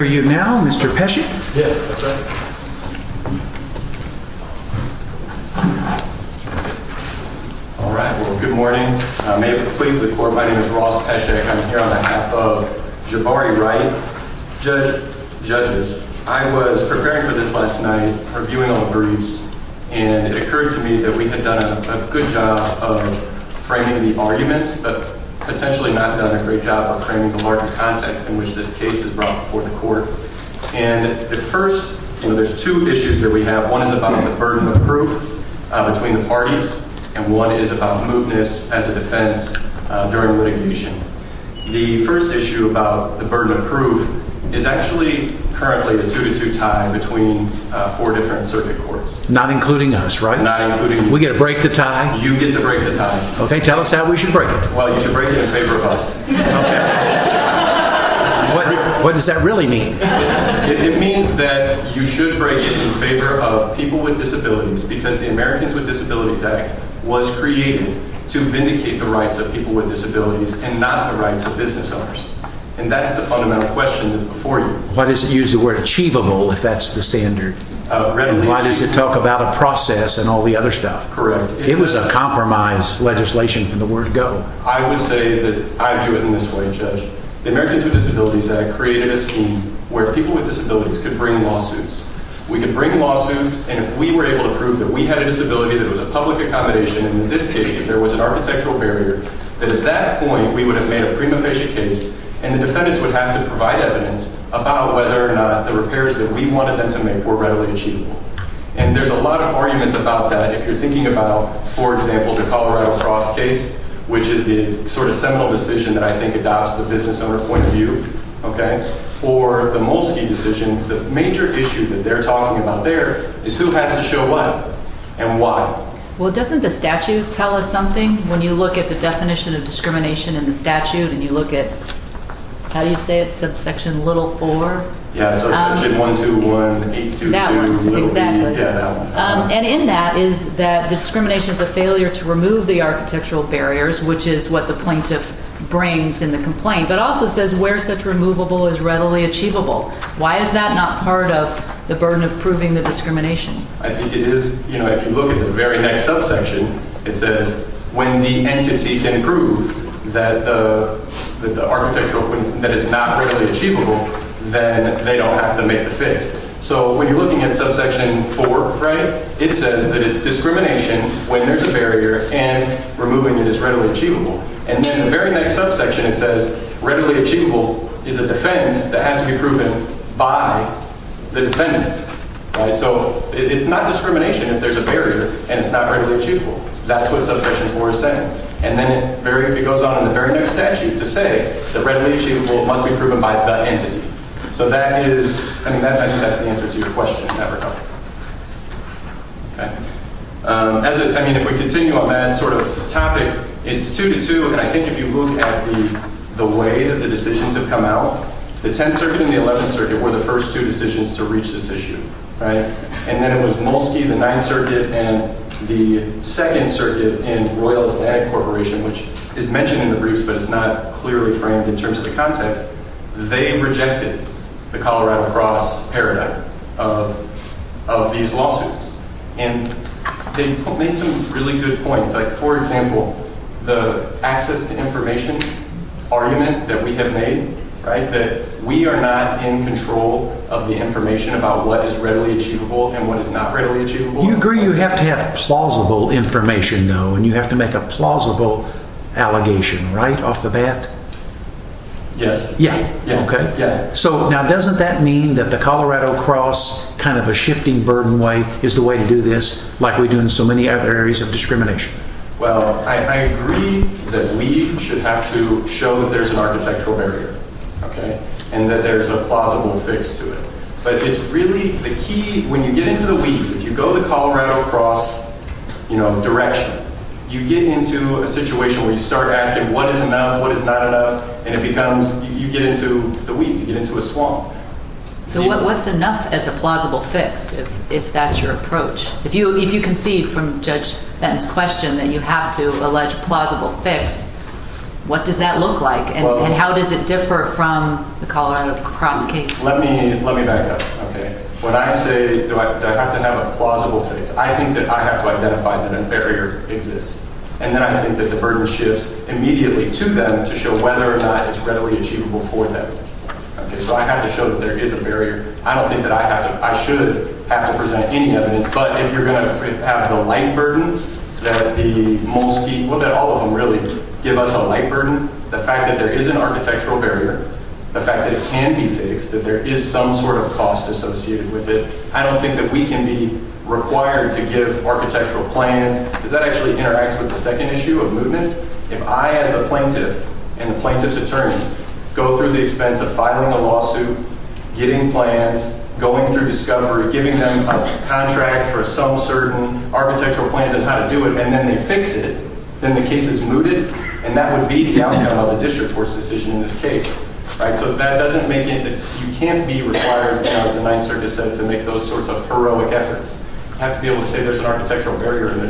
For you now, Mr. Pesci. Yes, Mr. President. All right, well, good morning. May it please the Court, my name is Ross Pesci. I'm here on behalf of Jabari Wright. Judges, I was preparing for this last night, reviewing all the briefs, and it occurred to me that we had done a good job of framing the arguments, but potentially not done a great job of framing the larger context in which this case is brought before the Court. And the first, you know, there's two issues that we have. One is about the burden of proof between the parties, and one is about mootness as a defense during litigation. The first issue about the burden of proof is actually currently the two-to-two tie between four different circuit courts. Not including us, right? Not including you. You get to break the tie. Okay, tell us how we should break it. Well, you should break it in favor of us. What does that really mean? It means that you should break it in favor of people with disabilities, because the Americans with Disabilities Act was created to vindicate the rights of people with disabilities and not the rights of business owners. And that's the fundamental question that's before you. Why does it use the word achievable, if that's the standard? Why does it talk about a process and all the other stuff? Correct. It was a compromise legislation from the word go. I would say that I view it in this way, Judge. The Americans with Disabilities Act created a scheme where people with disabilities could bring lawsuits. We could bring lawsuits, and if we were able to prove that we had a disability that was a public accommodation, and in this case, that there was an architectural barrier, then at that point, we would have made a prima facie case, and the defendants would have to provide evidence about whether or not the repairs that we wanted them to make were readily achievable. And there's a lot of arguments about that. If you're thinking about, for example, the Colorado Cross case, which is the sort of seminal decision that I think adopts the business owner point of view, okay, or the Molsky decision, the major issue that they're talking about there is who has to show what and why. Well, doesn't the statute tell us something when you look at the definition of discrimination in the statute and you look at, how do you say it, subsection little four? Yeah, subsection 121822. That one. Exactly. Yeah, that one. And in that is that discrimination is a failure to remove the architectural barriers, which is what the plaintiff brings in the complaint, but also says where such removable is readily achievable. Why is that not part of the burden of proving the discrimination? I think it is. You know, if you look at the very next subsection, it says when the entity can prove that the architectural that is not readily achievable, then they don't have to make the fix. So when you're looking at subsection four, right, it says that it's discrimination when there's a barrier and removing it is readily achievable. And then the very next subsection, it says readily achievable is a defense that has to be proven by the defendants. So it's not discrimination if there's a barrier and it's not readily achievable. That's what subsection four is saying. And then it goes on in the very next statute to say the readily achievable must be proven by the entity. So that is I mean, that's the answer to your question. Never. As I mean, if we continue on that sort of topic, it's two to two. And I think if you look at the way that the decisions have come out, the 10th Circuit and the 11th Circuit were the first two decisions to reach this issue. And then it was Molsky, the 9th Circuit, and the 2nd Circuit and Royal Atlantic Corporation, which is mentioned in the briefs, but it's not clearly framed in terms of the context. They rejected the Colorado Cross paradigm of these lawsuits. And they made some really good points. Like, for example, the access to information argument that we have made, right, that we are not in control of the information about what is readily achievable and what is not readily achievable. You agree you have to have plausible information, though, and you have to make a plausible allegation, right? Off the bat. Yes. Yeah. So now doesn't that mean that the Colorado Cross kind of a shifting burden way is the way to do this, like we do in so many other areas of discrimination? Well, I agree that we should have to show that there's an architectural barrier, OK, and that there's a plausible fix to it. But it's really the key. When you get into the weeds, if you go the Colorado Cross direction, you get into a situation where you start asking what is enough, what is not enough, and you get into the weeds. You get into a swamp. So what's enough as a plausible fix, if that's your approach? If you concede from Judge Benton's question that you have to allege plausible fix, what does that look like, and how does it differ from the Colorado Cross case? Let me back up. OK, when I say do I have to have a plausible fix, I think that I have to identify that a barrier exists. And then I think that the burden shifts immediately to them to show whether or not it's readily achievable for them. OK, so I have to show that there is a barrier. I don't think that I should have to present any evidence. But if you're going to have the light burden that all of them really give us a light burden, the fact that there is an architectural barrier, the fact that it can be fixed, that there is some sort of cost associated with it, I don't think that we can be required to give architectural plans because that actually interacts with the second issue of mootness. If I, as a plaintiff and the plaintiff's attorney, go through the expense of filing a lawsuit, getting plans, going through discovery, giving them a contract for some certain architectural plans and how to do it, and then they fix it, then the case is mooted. And that would be the outcome of the district court's decision in this case. So that doesn't make it that you can't be required, as the Ninth Circuit said, to make those sorts of heroic efforts. You have to be able to say there's an architectural barrier, and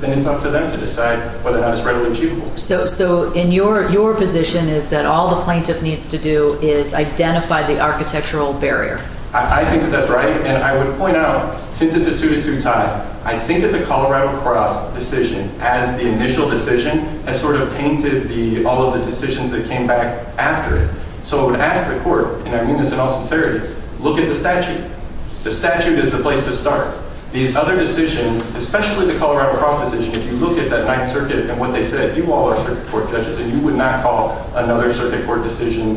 then it's up to them to decide whether or not it's readily achievable. So in your position is that all the plaintiff needs to do is identify the architectural barrier? I think that that's right. And I would point out, since it's a two-to-two tie, I think that the Colorado Cross decision, as the initial decision, has sort of tainted all of the decisions that came back after it. So I would ask the court, and I mean this in all sincerity, look at the statute. The statute is the place to start. These other decisions, especially the Colorado Cross decision, if you look at that Ninth Circuit and what they said, you all are circuit court judges, and you would not call another circuit court decision,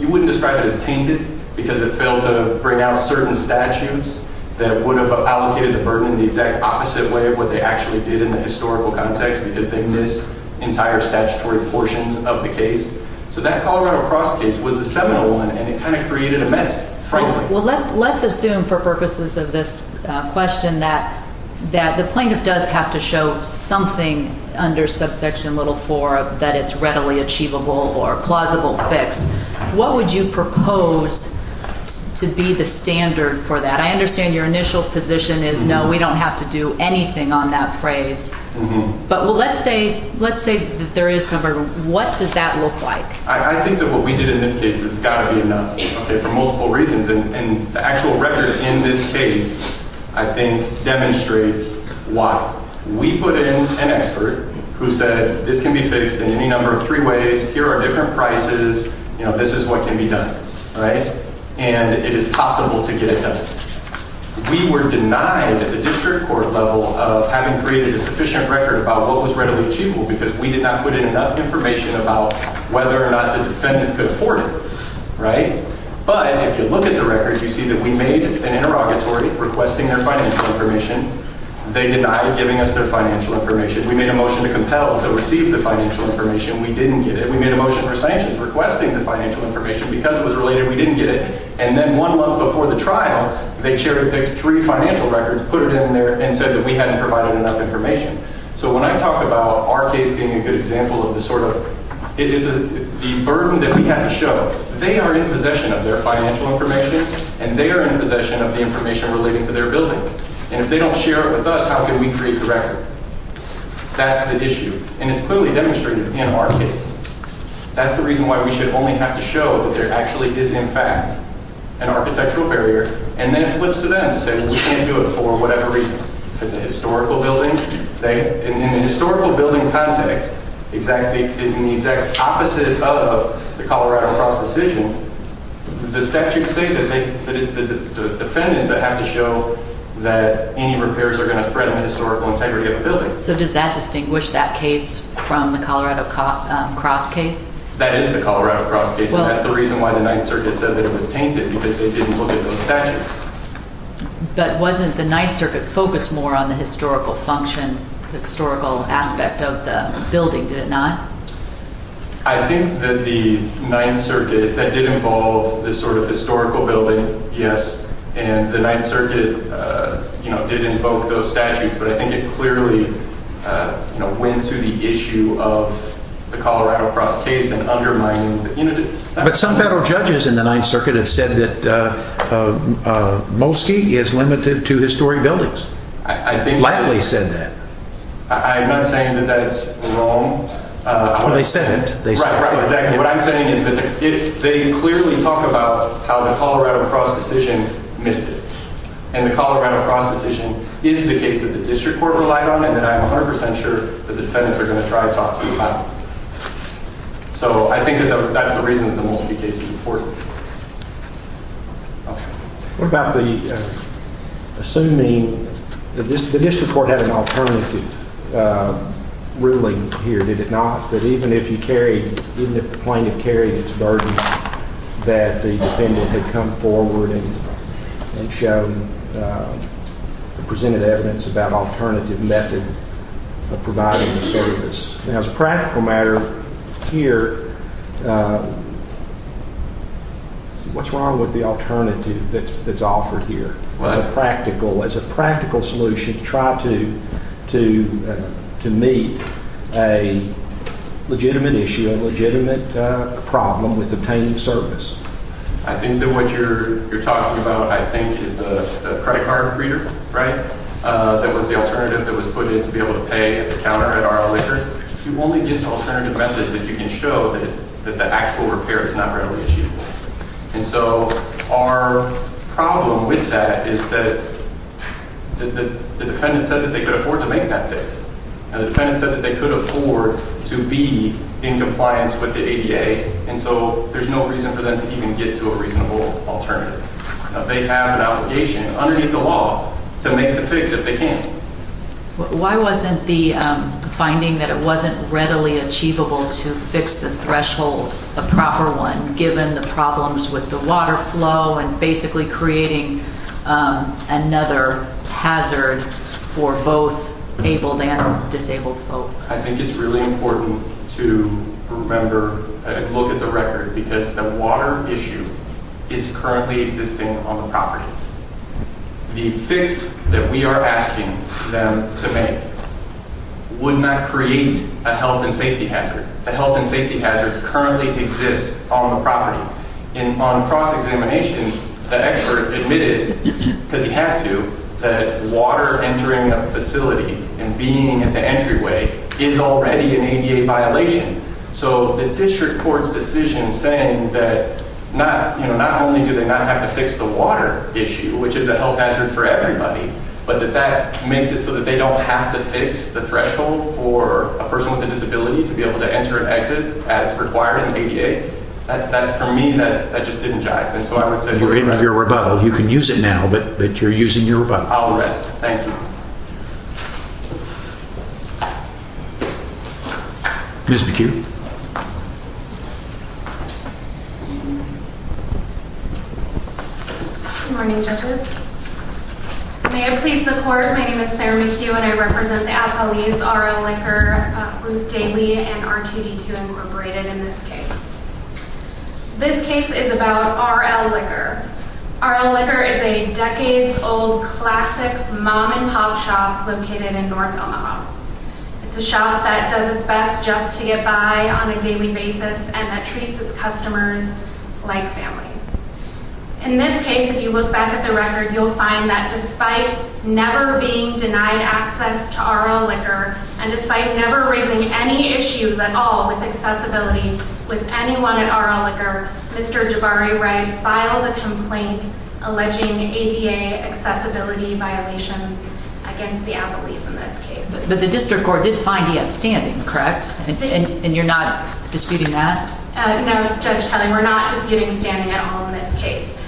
you wouldn't describe it as tainted because it failed to bring out certain statutes that would have allocated the burden in the exact opposite way of what they actually did in the historical context because they missed entire statutory portions of the case. So that Colorado Cross case was the seminal one, and it kind of created a mess, frankly. Well, let's assume for purposes of this question that the plaintiff does have to show something under subsection little four that it's readily achievable or a plausible fix. What would you propose to be the standard for that? I understand your initial position is no, we don't have to do anything on that phrase. But let's say that there is some, or what does that look like? I think that what we did in this case has got to be enough for multiple reasons, and the actual record in this case, I think, demonstrates why. We put in an expert who said this can be fixed in any number of three ways. Here are different prices. This is what can be done, and it is possible to get it done. We were denied at the district court level of having created a sufficient record about what was readily achievable because we did not put in enough information about whether or not the defendants could afford it. But if you look at the record, you see that we made an interrogatory requesting their financial information. They denied giving us their financial information. We made a motion to compel to receive the financial information. We didn't get it. We made a motion for sanctions requesting the financial information. Because it was related, we didn't get it. And then one month before the trial, they picked three financial records, put it in there, and said that we hadn't provided enough information. So when I talk about our case being a good example of the sort of – it's the burden that we have to show. They are in possession of their financial information, and they are in possession of the information relating to their building. And if they don't share it with us, how can we create the record? That's the issue, and it's clearly demonstrated in our case. That's the reason why we should only have to show that there actually is, in fact, an architectural barrier. And then it flips to them to say, well, we can't do it for whatever reason. If it's a historical building, in the historical building context, in the exact opposite of the Colorado Cross decision, the statute says that it's the defendants that have to show that any repairs are going to threaten the historical integrity of a building. So does that distinguish that case from the Colorado Cross case? That is the Colorado Cross case, and that's the reason why the Ninth Circuit said that it was tainted, because they didn't look at those statutes. But wasn't the Ninth Circuit focused more on the historical function, the historical aspect of the building, did it not? I think that the Ninth Circuit – that did involve this sort of historical building, yes. And the Ninth Circuit did invoke those statutes, but I think it clearly went to the issue of the Colorado Cross case and undermining the unity. But some federal judges in the Ninth Circuit have said that Mosky is limited to historic buildings. Flatly said that. I'm not saying that that's wrong. Well, they said it. Right, right, exactly. What I'm saying is that they clearly talk about how the Colorado Cross decision missed it. And the Colorado Cross decision is the case that the district court relied on and that I'm 100 percent sure that the defendants are going to try to talk to you about. So I think that that's the reason that the Mosky case is important. What about the – assuming – the district court had an alternative ruling here, did it not? That even if you carried – even if the plaintiff carried its burden, that the defendant had come forward and shown and presented evidence about alternative method of providing the service. Now, as a practical matter here, what's wrong with the alternative that's offered here as a practical solution to try to meet a legitimate issue, a legitimate problem with obtaining service? I think that what you're talking about, I think, is the credit card reader, right, that was the alternative that was put in to be able to pay at the counter at our liquor. You only get alternative methods if you can show that the actual repair is not readily achievable. And so our problem with that is that the defendant said that they could afford to make that fix. Now, the defendant said that they could afford to be in compliance with the ADA, and so there's no reason for them to even get to a reasonable alternative. Now, they have an obligation underneath the law to make the fix if they can. Why wasn't the finding that it wasn't readily achievable to fix the threshold a proper one, given the problems with the water flow and basically creating another hazard for both abled and disabled folk? I think it's really important to remember and look at the record because the water issue is currently existing on the property. The fix that we are asking them to make would not create a health and safety hazard. The health and safety hazard currently exists on the property. And on cross-examination, the expert admitted, because he had to, that water entering a facility and being at the entryway is already an ADA violation. So the district court's decision saying that not only do they not have to fix the water issue, which is a health hazard for everybody, but that that makes it so that they don't have to fix the threshold for a person with a disability to be able to enter and exit as required in the ADA, that, for me, that just didn't jive. You're in your rebuttal. You can use it now, but you're using your rebuttal. I'll rest. Thank you. Ms. McHugh. Good morning, judges. May it please the court, my name is Sarah McHugh and I represent Appalese R.L. Liquor with Daly and R2D2 Incorporated in this case. This case is about R.L. Liquor. R.L. Liquor is a decades-old classic mom-and-pop shop located in North Omaha. It's a shop that does its best just to get by on a daily basis and that treats its customers like family. In this case, if you look back at the record, you'll find that despite never being denied access to R.L. Liquor and despite never raising any issues at all with accessibility with anyone at R.L. Liquor, Mr. Jabari Wright filed a complaint alleging ADA accessibility violations against the Appalese in this case. But the district court didn't find he had standing, correct? And you're not disputing that? No, Judge Cunningham, we're not disputing standing at all in this case.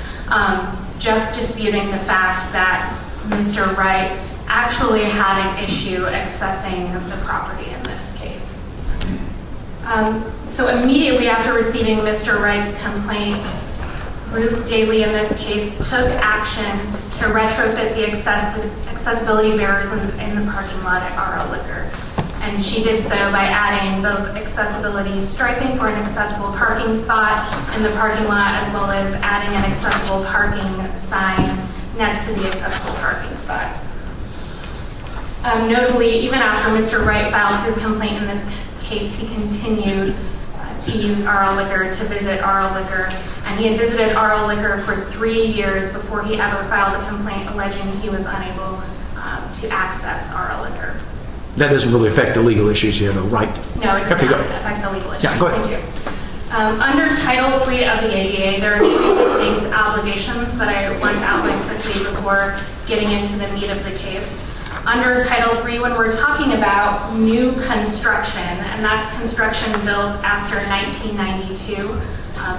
Just disputing the fact that Mr. Wright actually had an issue accessing the property in this case. So immediately after receiving Mr. Wright's complaint, Ruth Daly in this case took action to retrofit the accessibility barriers in the parking lot at R.L. Liquor. And she did so by adding the accessibility striping for an accessible parking spot in the parking lot as well as adding an accessible parking sign next to the accessible parking spot. Notably, even after Mr. Wright filed his complaint in this case, he continued to use R.L. Liquor, to visit R.L. Liquor. And he had visited R.L. Liquor for three years before he ever filed a complaint alleging he was unable to access R.L. Liquor. That doesn't really affect the legal issues here, though, right? No, it does not affect the legal issues. Yeah, go ahead. Under Title III of the ADA, there are many distinct obligations that I want to outline quickly before getting into the meat of the case. Under Title III, when we're talking about new construction, and that's construction built after 1992,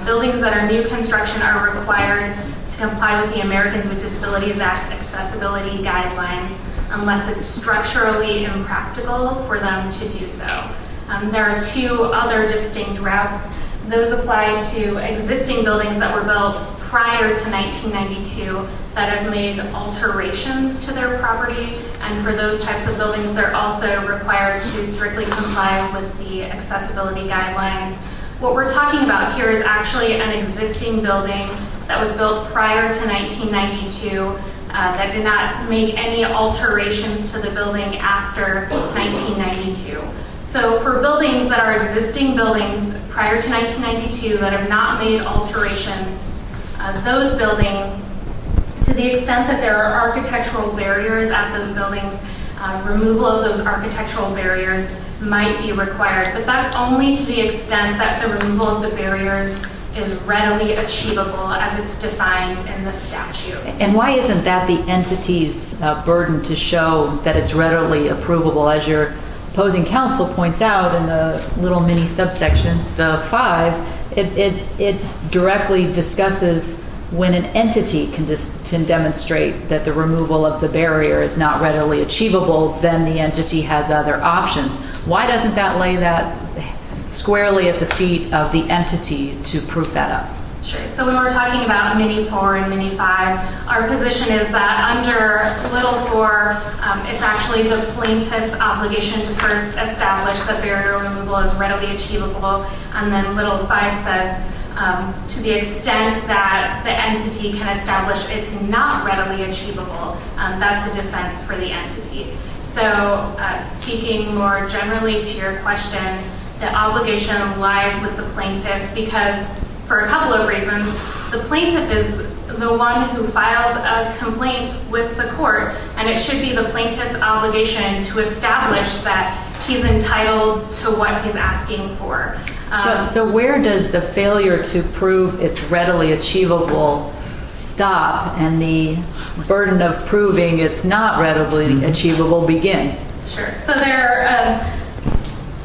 buildings that are new construction are required to comply with the Americans with Disabilities Act accessibility guidelines unless it's structurally impractical for them to do so. There are two other distinct routes. Those apply to existing buildings that were built prior to 1992 that have made alterations to their property. And for those types of buildings, they're also required to strictly comply with the accessibility guidelines. What we're talking about here is actually an existing building that was built prior to 1992 that did not make any alterations to the building after 1992. So for buildings that are existing buildings prior to 1992 that have not made alterations, those buildings, to the extent that there are architectural barriers at those buildings, removal of those architectural barriers might be required. But that's only to the extent that the removal of the barriers is readily achievable as it's defined in the statute. And why isn't that the entity's burden to show that it's readily approvable? As your opposing counsel points out in the little mini-subsections, the five, it directly discusses when an entity can demonstrate that the removal of the barrier is not readily achievable, then the entity has other options. Why doesn't that lay that squarely at the feet of the entity to prove that up? Sure. So when we're talking about mini-four and mini-five, our position is that under little four, it's actually the plaintiff's obligation to first establish that barrier removal is readily achievable. And then little five says to the extent that the entity can establish it's not readily achievable, that's a defense for the entity. So speaking more generally to your question, the obligation lies with the plaintiff, because for a couple of reasons, the plaintiff is the one who filed a complaint with the court, and it should be the plaintiff's obligation to establish that he's entitled to what he's asking for. So where does the failure to prove it's readily achievable stop, and the burden of proving it's not readily achievable begin? Sure. So there are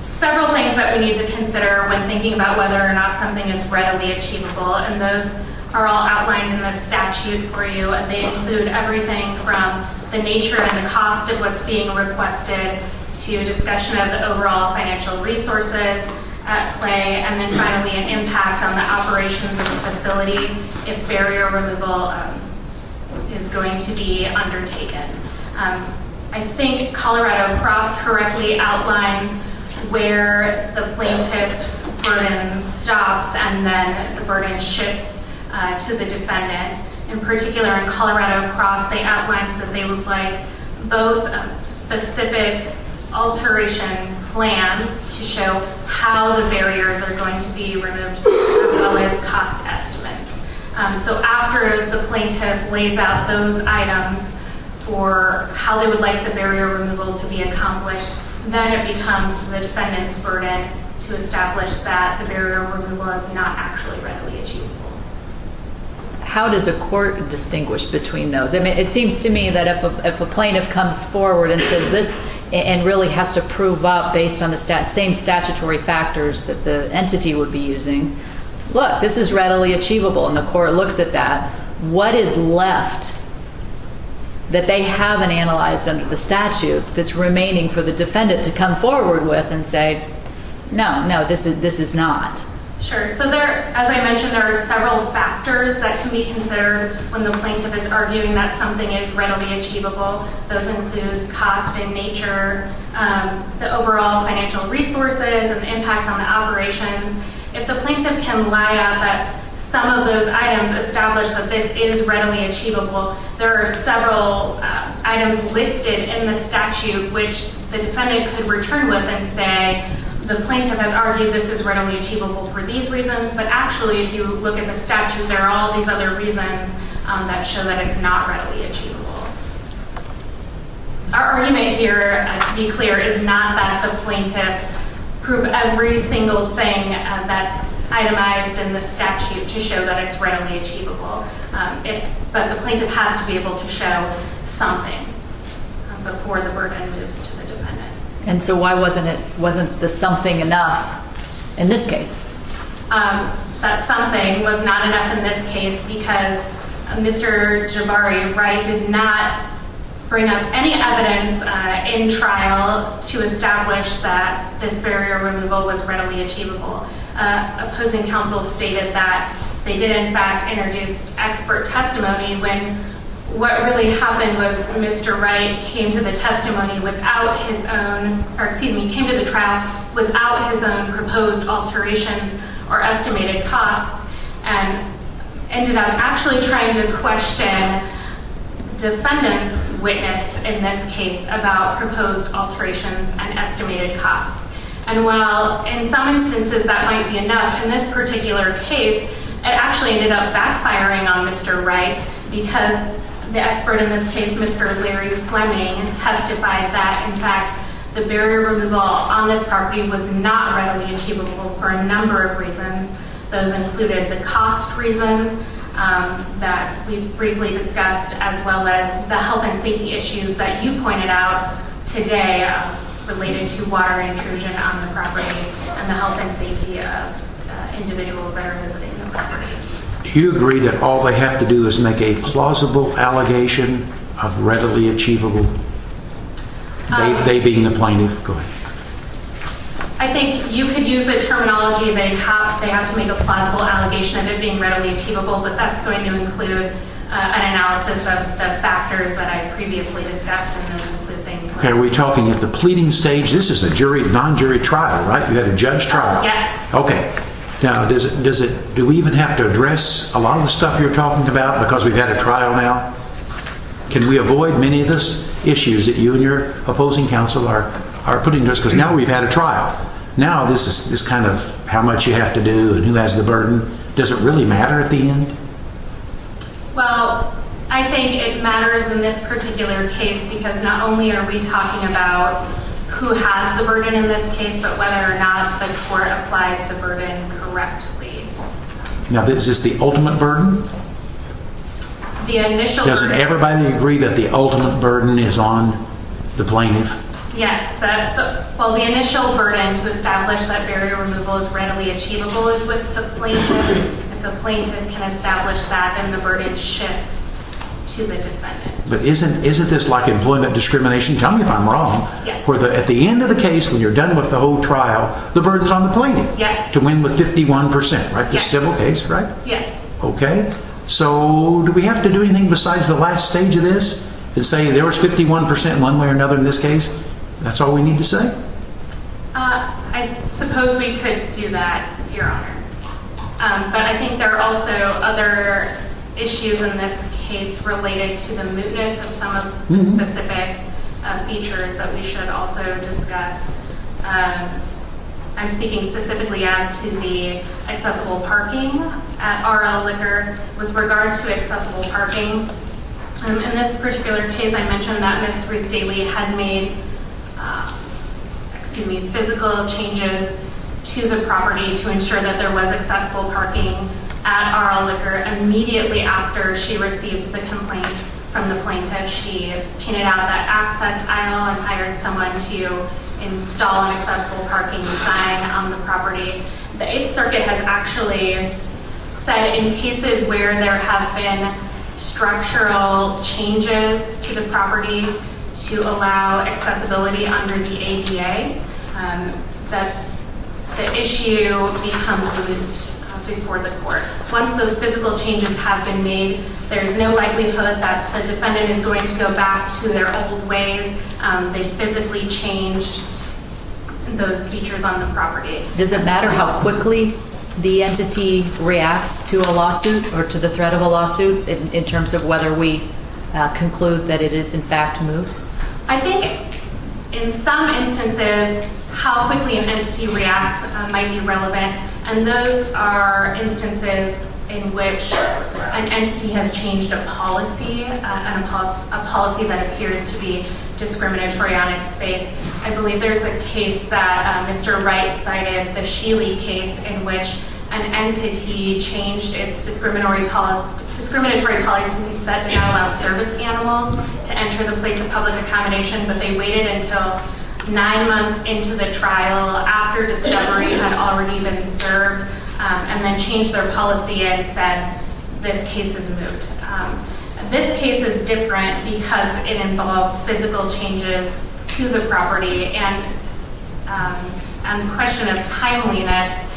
several things that we need to consider when thinking about whether or not something is readily achievable, and those are all outlined in the statute for you. They include everything from the nature and the cost of what's being requested to a discussion of the overall financial resources at play, and then finally an impact on the operations of the facility if barrier removal is going to be undertaken. I think Colorado Cross correctly outlines where the plaintiff's burden stops, and then the burden shifts to the defendant. In particular, Colorado Cross, they outlined that they would like both specific alteration plans to show how the barriers are going to be removed as well as cost estimates. So after the plaintiff lays out those items for how they would like the barrier removal to be accomplished, then it becomes the defendant's burden to establish that the barrier removal is not actually readily achievable. How does a court distinguish between those? I mean, it seems to me that if a plaintiff comes forward and says this, and really has to prove up based on the same statutory factors that the entity would be using, look, this is readily achievable, and the court looks at that. What is left that they haven't analyzed under the statute that's remaining for the defendant to come forward with and say, no, no, this is not? Sure. So as I mentioned, there are several factors that can be considered when the plaintiff is arguing that something is readily achievable. Those include cost in nature, the overall financial resources, and the impact on the operations. If the plaintiff can lie out that some of those items establish that this is readily achievable, there are several items listed in the statute which the defendant could return with and say, the plaintiff has argued this is readily achievable for these reasons, but actually if you look at the statute, there are all these other reasons that show that it's not readily achievable. Our argument here, to be clear, is not that the plaintiff proved every single thing that's itemized in the statute to show that it's readily achievable. But the plaintiff has to be able to show something before the burden moves to the defendant. And so why wasn't the something enough in this case? That something was not enough in this case because Mr. Jabari Wright did not bring up any evidence in trial to establish that this barrier removal was readily achievable. Opposing counsel stated that they did, in fact, introduce expert testimony when what really happened was Mr. Wright came to the testimony without his own, or excuse me, came to the trial without his own proposed alterations or estimated costs and ended up actually trying to question defendant's witness in this case about proposed alterations and estimated costs. And while in some instances that might be enough, in this particular case, it actually ended up backfiring on Mr. Wright because the expert in this case, Mr. Larry Fleming, testified that, in fact, the barrier removal on this property was not readily achievable for a number of reasons. Those included the cost reasons that we briefly discussed, as well as the health and safety issues that you pointed out today related to water intrusion on the property and the health and safety of individuals that are visiting the property. Do you agree that all they have to do is make a plausible allegation of readily achievable? They being the plaintiff. Go ahead. I think you could use the terminology they have to make a plausible allegation of it being readily achievable, but that's going to include an analysis of the factors that I previously discussed and those include things like... Okay, are we talking at the pleading stage? This is a non-jury trial, right? You had a judge trial. Yes. Okay. Now, do we even have to address a lot of the stuff you're talking about because we've had a trial now? Can we avoid many of those issues that you and your opposing counsel are putting to us? Because now we've had a trial. Now this is kind of how much you have to do and who has the burden. Does it really matter at the end? Well, I think it matters in this particular case because not only are we talking about who has the burden in this case, but whether or not the court applied the burden correctly. Now, is this the ultimate burden? The initial... Doesn't everybody agree that the ultimate burden is on the plaintiff? Yes. Well, the initial burden to establish that barrier removal is readily achievable is with the plaintiff. If the plaintiff can establish that, then the burden shifts to the defendant. But isn't this like employment discrimination? Tell me if I'm wrong. Yes. At the end of the case, when you're done with the whole trial, the burden's on the plaintiff. Yes. To win with 51%, right? Yes. This civil case, right? Yes. Okay. So do we have to do anything besides the last stage of this and say there was 51% one way or another in this case? That's all we need to say? I suppose we could do that, Your Honor. But I think there are also other issues in this case related to the mootness of some of the specific features that we should also discuss. I'm speaking specifically as to the accessible parking at R.L. Liquor with regard to accessible parking. In this particular case, I mentioned that Ms. Ruth Daly had made physical changes to the property to ensure that there was accessible parking at R.L. Liquor immediately after she received the complaint from the plaintiff. She painted out that access aisle and hired someone to install an accessible parking sign on the property. The Eighth Circuit has actually said in cases where there have been structural changes to the property to allow accessibility under the ADA, that the issue becomes moot before the court. Once those physical changes have been made, there's no likelihood that the defendant is going to go back to their old ways. They physically changed those features on the property. Does it matter how quickly the entity reacts to a lawsuit or to the threat of a lawsuit in terms of whether we conclude that it is in fact moot? I think in some instances, how quickly an entity reacts might be relevant. And those are instances in which an entity has changed a policy, a policy that appears to be discriminatory on its face. I believe there's a case that Mr. Wright cited, the Sheely case, in which an entity changed its discriminatory policies that did not allow service animals to enter the place of public accommodation, but they waited until nine months into the trial, after discovery had already been served, and then changed their policy and said, this case is moot. This case is different because it involves physical changes to the property, and the question of timeliness,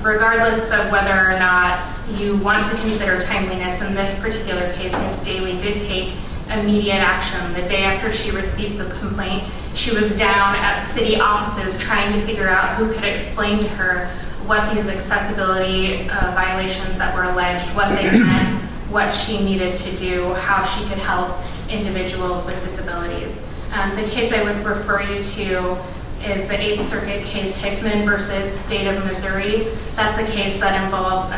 regardless of whether or not you want to consider timeliness in this particular case, Ms. Daly did take immediate action. The day after she received the complaint, she was down at city offices trying to figure out who could explain to her what these accessibility violations that were alleged, what they meant, what she needed to do, how she could help individuals with disabilities. The case I would refer you to is the Eighth Circuit case, Hickman v. State of Missouri. That's a case that involves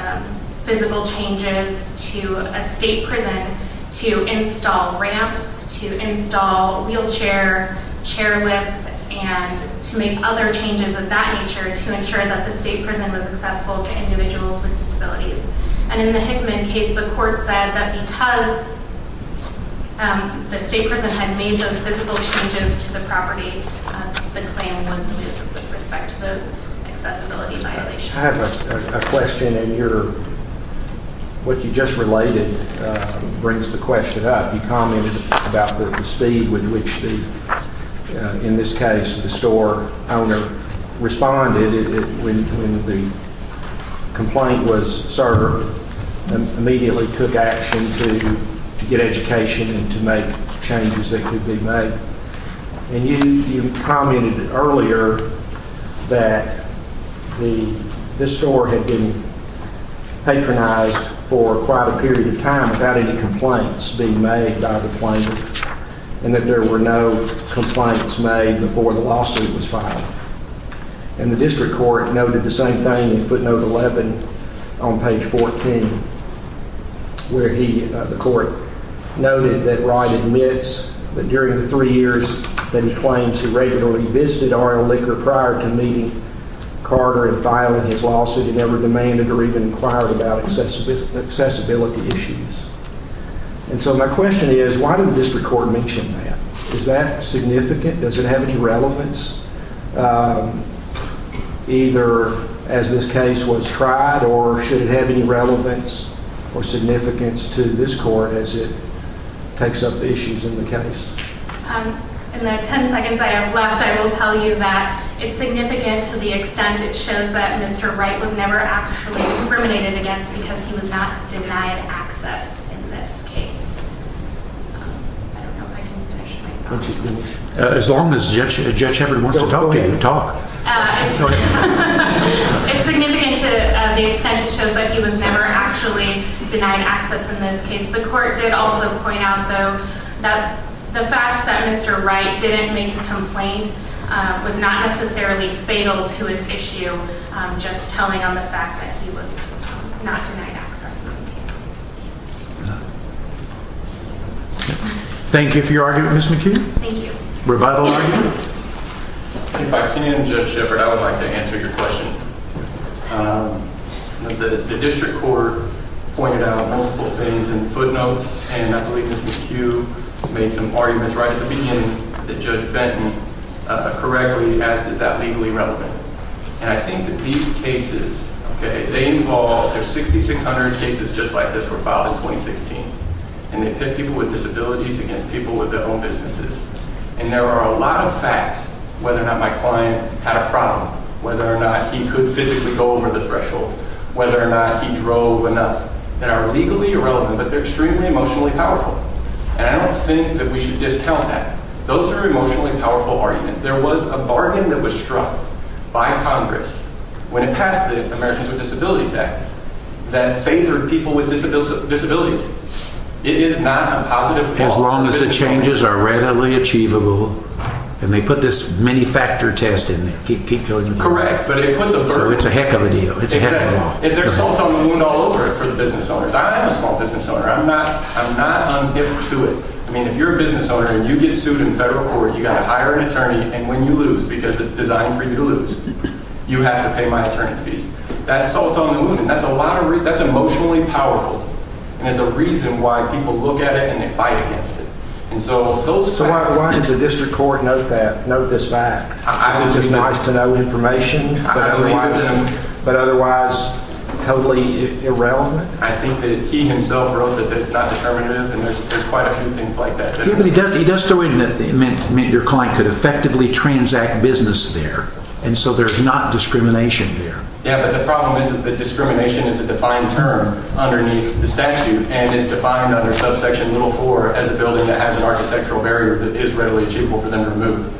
physical changes to a state prison to install ramps, to install wheelchair chairlifts, and to make other changes of that nature to ensure that the state prison was accessible to individuals with disabilities. And in the Hickman case, the court said that because the state prison had made those physical changes to the property, the claim was moot with respect to those accessibility violations. I have a question, and what you just related brings the question up. You commented about the speed with which, in this case, the store owner responded when the complaint was served, and immediately took action to get education and to make changes that could be made. And you commented earlier that this store had been patronized for quite a period of time without any complaints being made by the plaintiff, and that there were no complaints made before the lawsuit was filed. And the district court noted the same thing in footnote 11 on page 14, where the court noted that Wright admits that during the three years that he claims he regularly visited Arnold Liquor prior to meeting Carter and filing his lawsuit, he never demanded or even inquired about accessibility issues. And so my question is, why did the district court mention that? Is that significant? Does it have any relevance? Either as this case was tried, or should it have any relevance or significance to this court as it takes up issues in the case? In the 10 seconds I have left, I will tell you that it's significant to the extent it shows that Mr. Wright was never actually discriminated against because he was not denied access in this case. I don't know if I can finish my thought. As long as Judge Hebert wants to talk to you, talk. It's significant to the extent it shows that he was never actually denied access in this case. The court did also point out, though, that the fact that Mr. Wright didn't make a complaint was not necessarily fatal to his issue, just telling on the fact that he was not denied access in the case. Thank you for your argument, Ms. McHugh. Thank you. Revival argument? If I can, Judge Shepherd, I would like to answer your question. The district court pointed out multiple things in footnotes, and I believe Ms. McHugh made some arguments right at the beginning that Judge Benton correctly asked, is that legally relevant? And I think that these cases, okay, they involve, there's 6,600 cases just like this were filed in 2016, and they pitted people with disabilities against people with their own businesses. And there are a lot of facts, whether or not my client had a problem, whether or not he could physically go over the threshold, whether or not he drove enough, that are legally irrelevant, but they're extremely emotionally powerful. And I don't think that we should discount that. Those are emotionally powerful arguments. There was a bargain that was struck by Congress when it passed the Americans with Disabilities Act that favored people with disabilities. It is not a positive law. As long as the changes are readily achievable, and they put this many-factor test in there. Correct, but it puts a burden. So it's a heck of a deal. It's a heck of a law. And there's salt on the wound all over it for the business owners. I am a small business owner. I'm not unhip to it. I mean, if you're a business owner, and you get sued in federal court, you've got to hire an attorney, and when you lose, because it's designed for you to lose, you have to pay my attorney's fees. That's salt on the wound, and that's emotionally powerful. And there's a reason why people look at it, and they fight against it. So why did the district court note that, note this fact? Because it's nice to know information, but otherwise totally irrelevant? I think that he himself wrote that it's not determinative, and there's quite a few things like that. He does throw in that it meant your client could effectively transact business there, and so there's not discrimination there. Yeah, but the problem is that discrimination is a defined term underneath the statute, and it's defined under subsection little four as a building that has an architectural barrier that is readily achievable for them to move.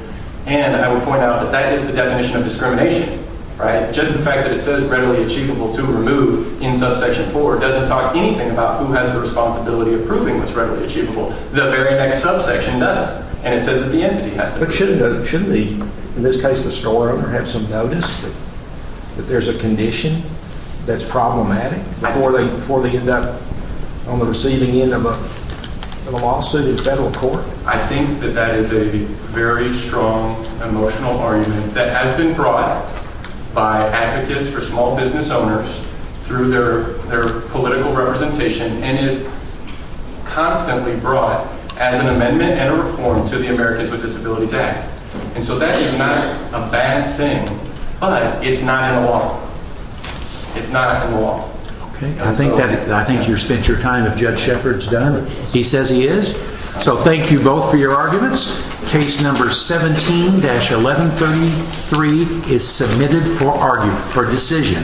And I would point out that that is the definition of discrimination, right? Just the fact that it says readily achievable to remove in subsection four doesn't talk anything about who has the responsibility of proving what's readily achievable. The very next subsection does, and it says that the entity has to do it. But shouldn't the, in this case the store owner, have some notice that there's a condition that's problematic before they end up on the receiving end of a lawsuit in federal court? I think that that is a very strong emotional argument that has been brought by advocates for small business owners through their political representation, and is constantly brought as an amendment and a reform to the Americans with Disabilities Act. And so that is not a bad thing, but it's not in law. It's not in law. Okay, I think you've spent your time if Judge Shepard's done. He says he is, so thank you both for your arguments. Case number 17-1133 is submitted for argument, for decision.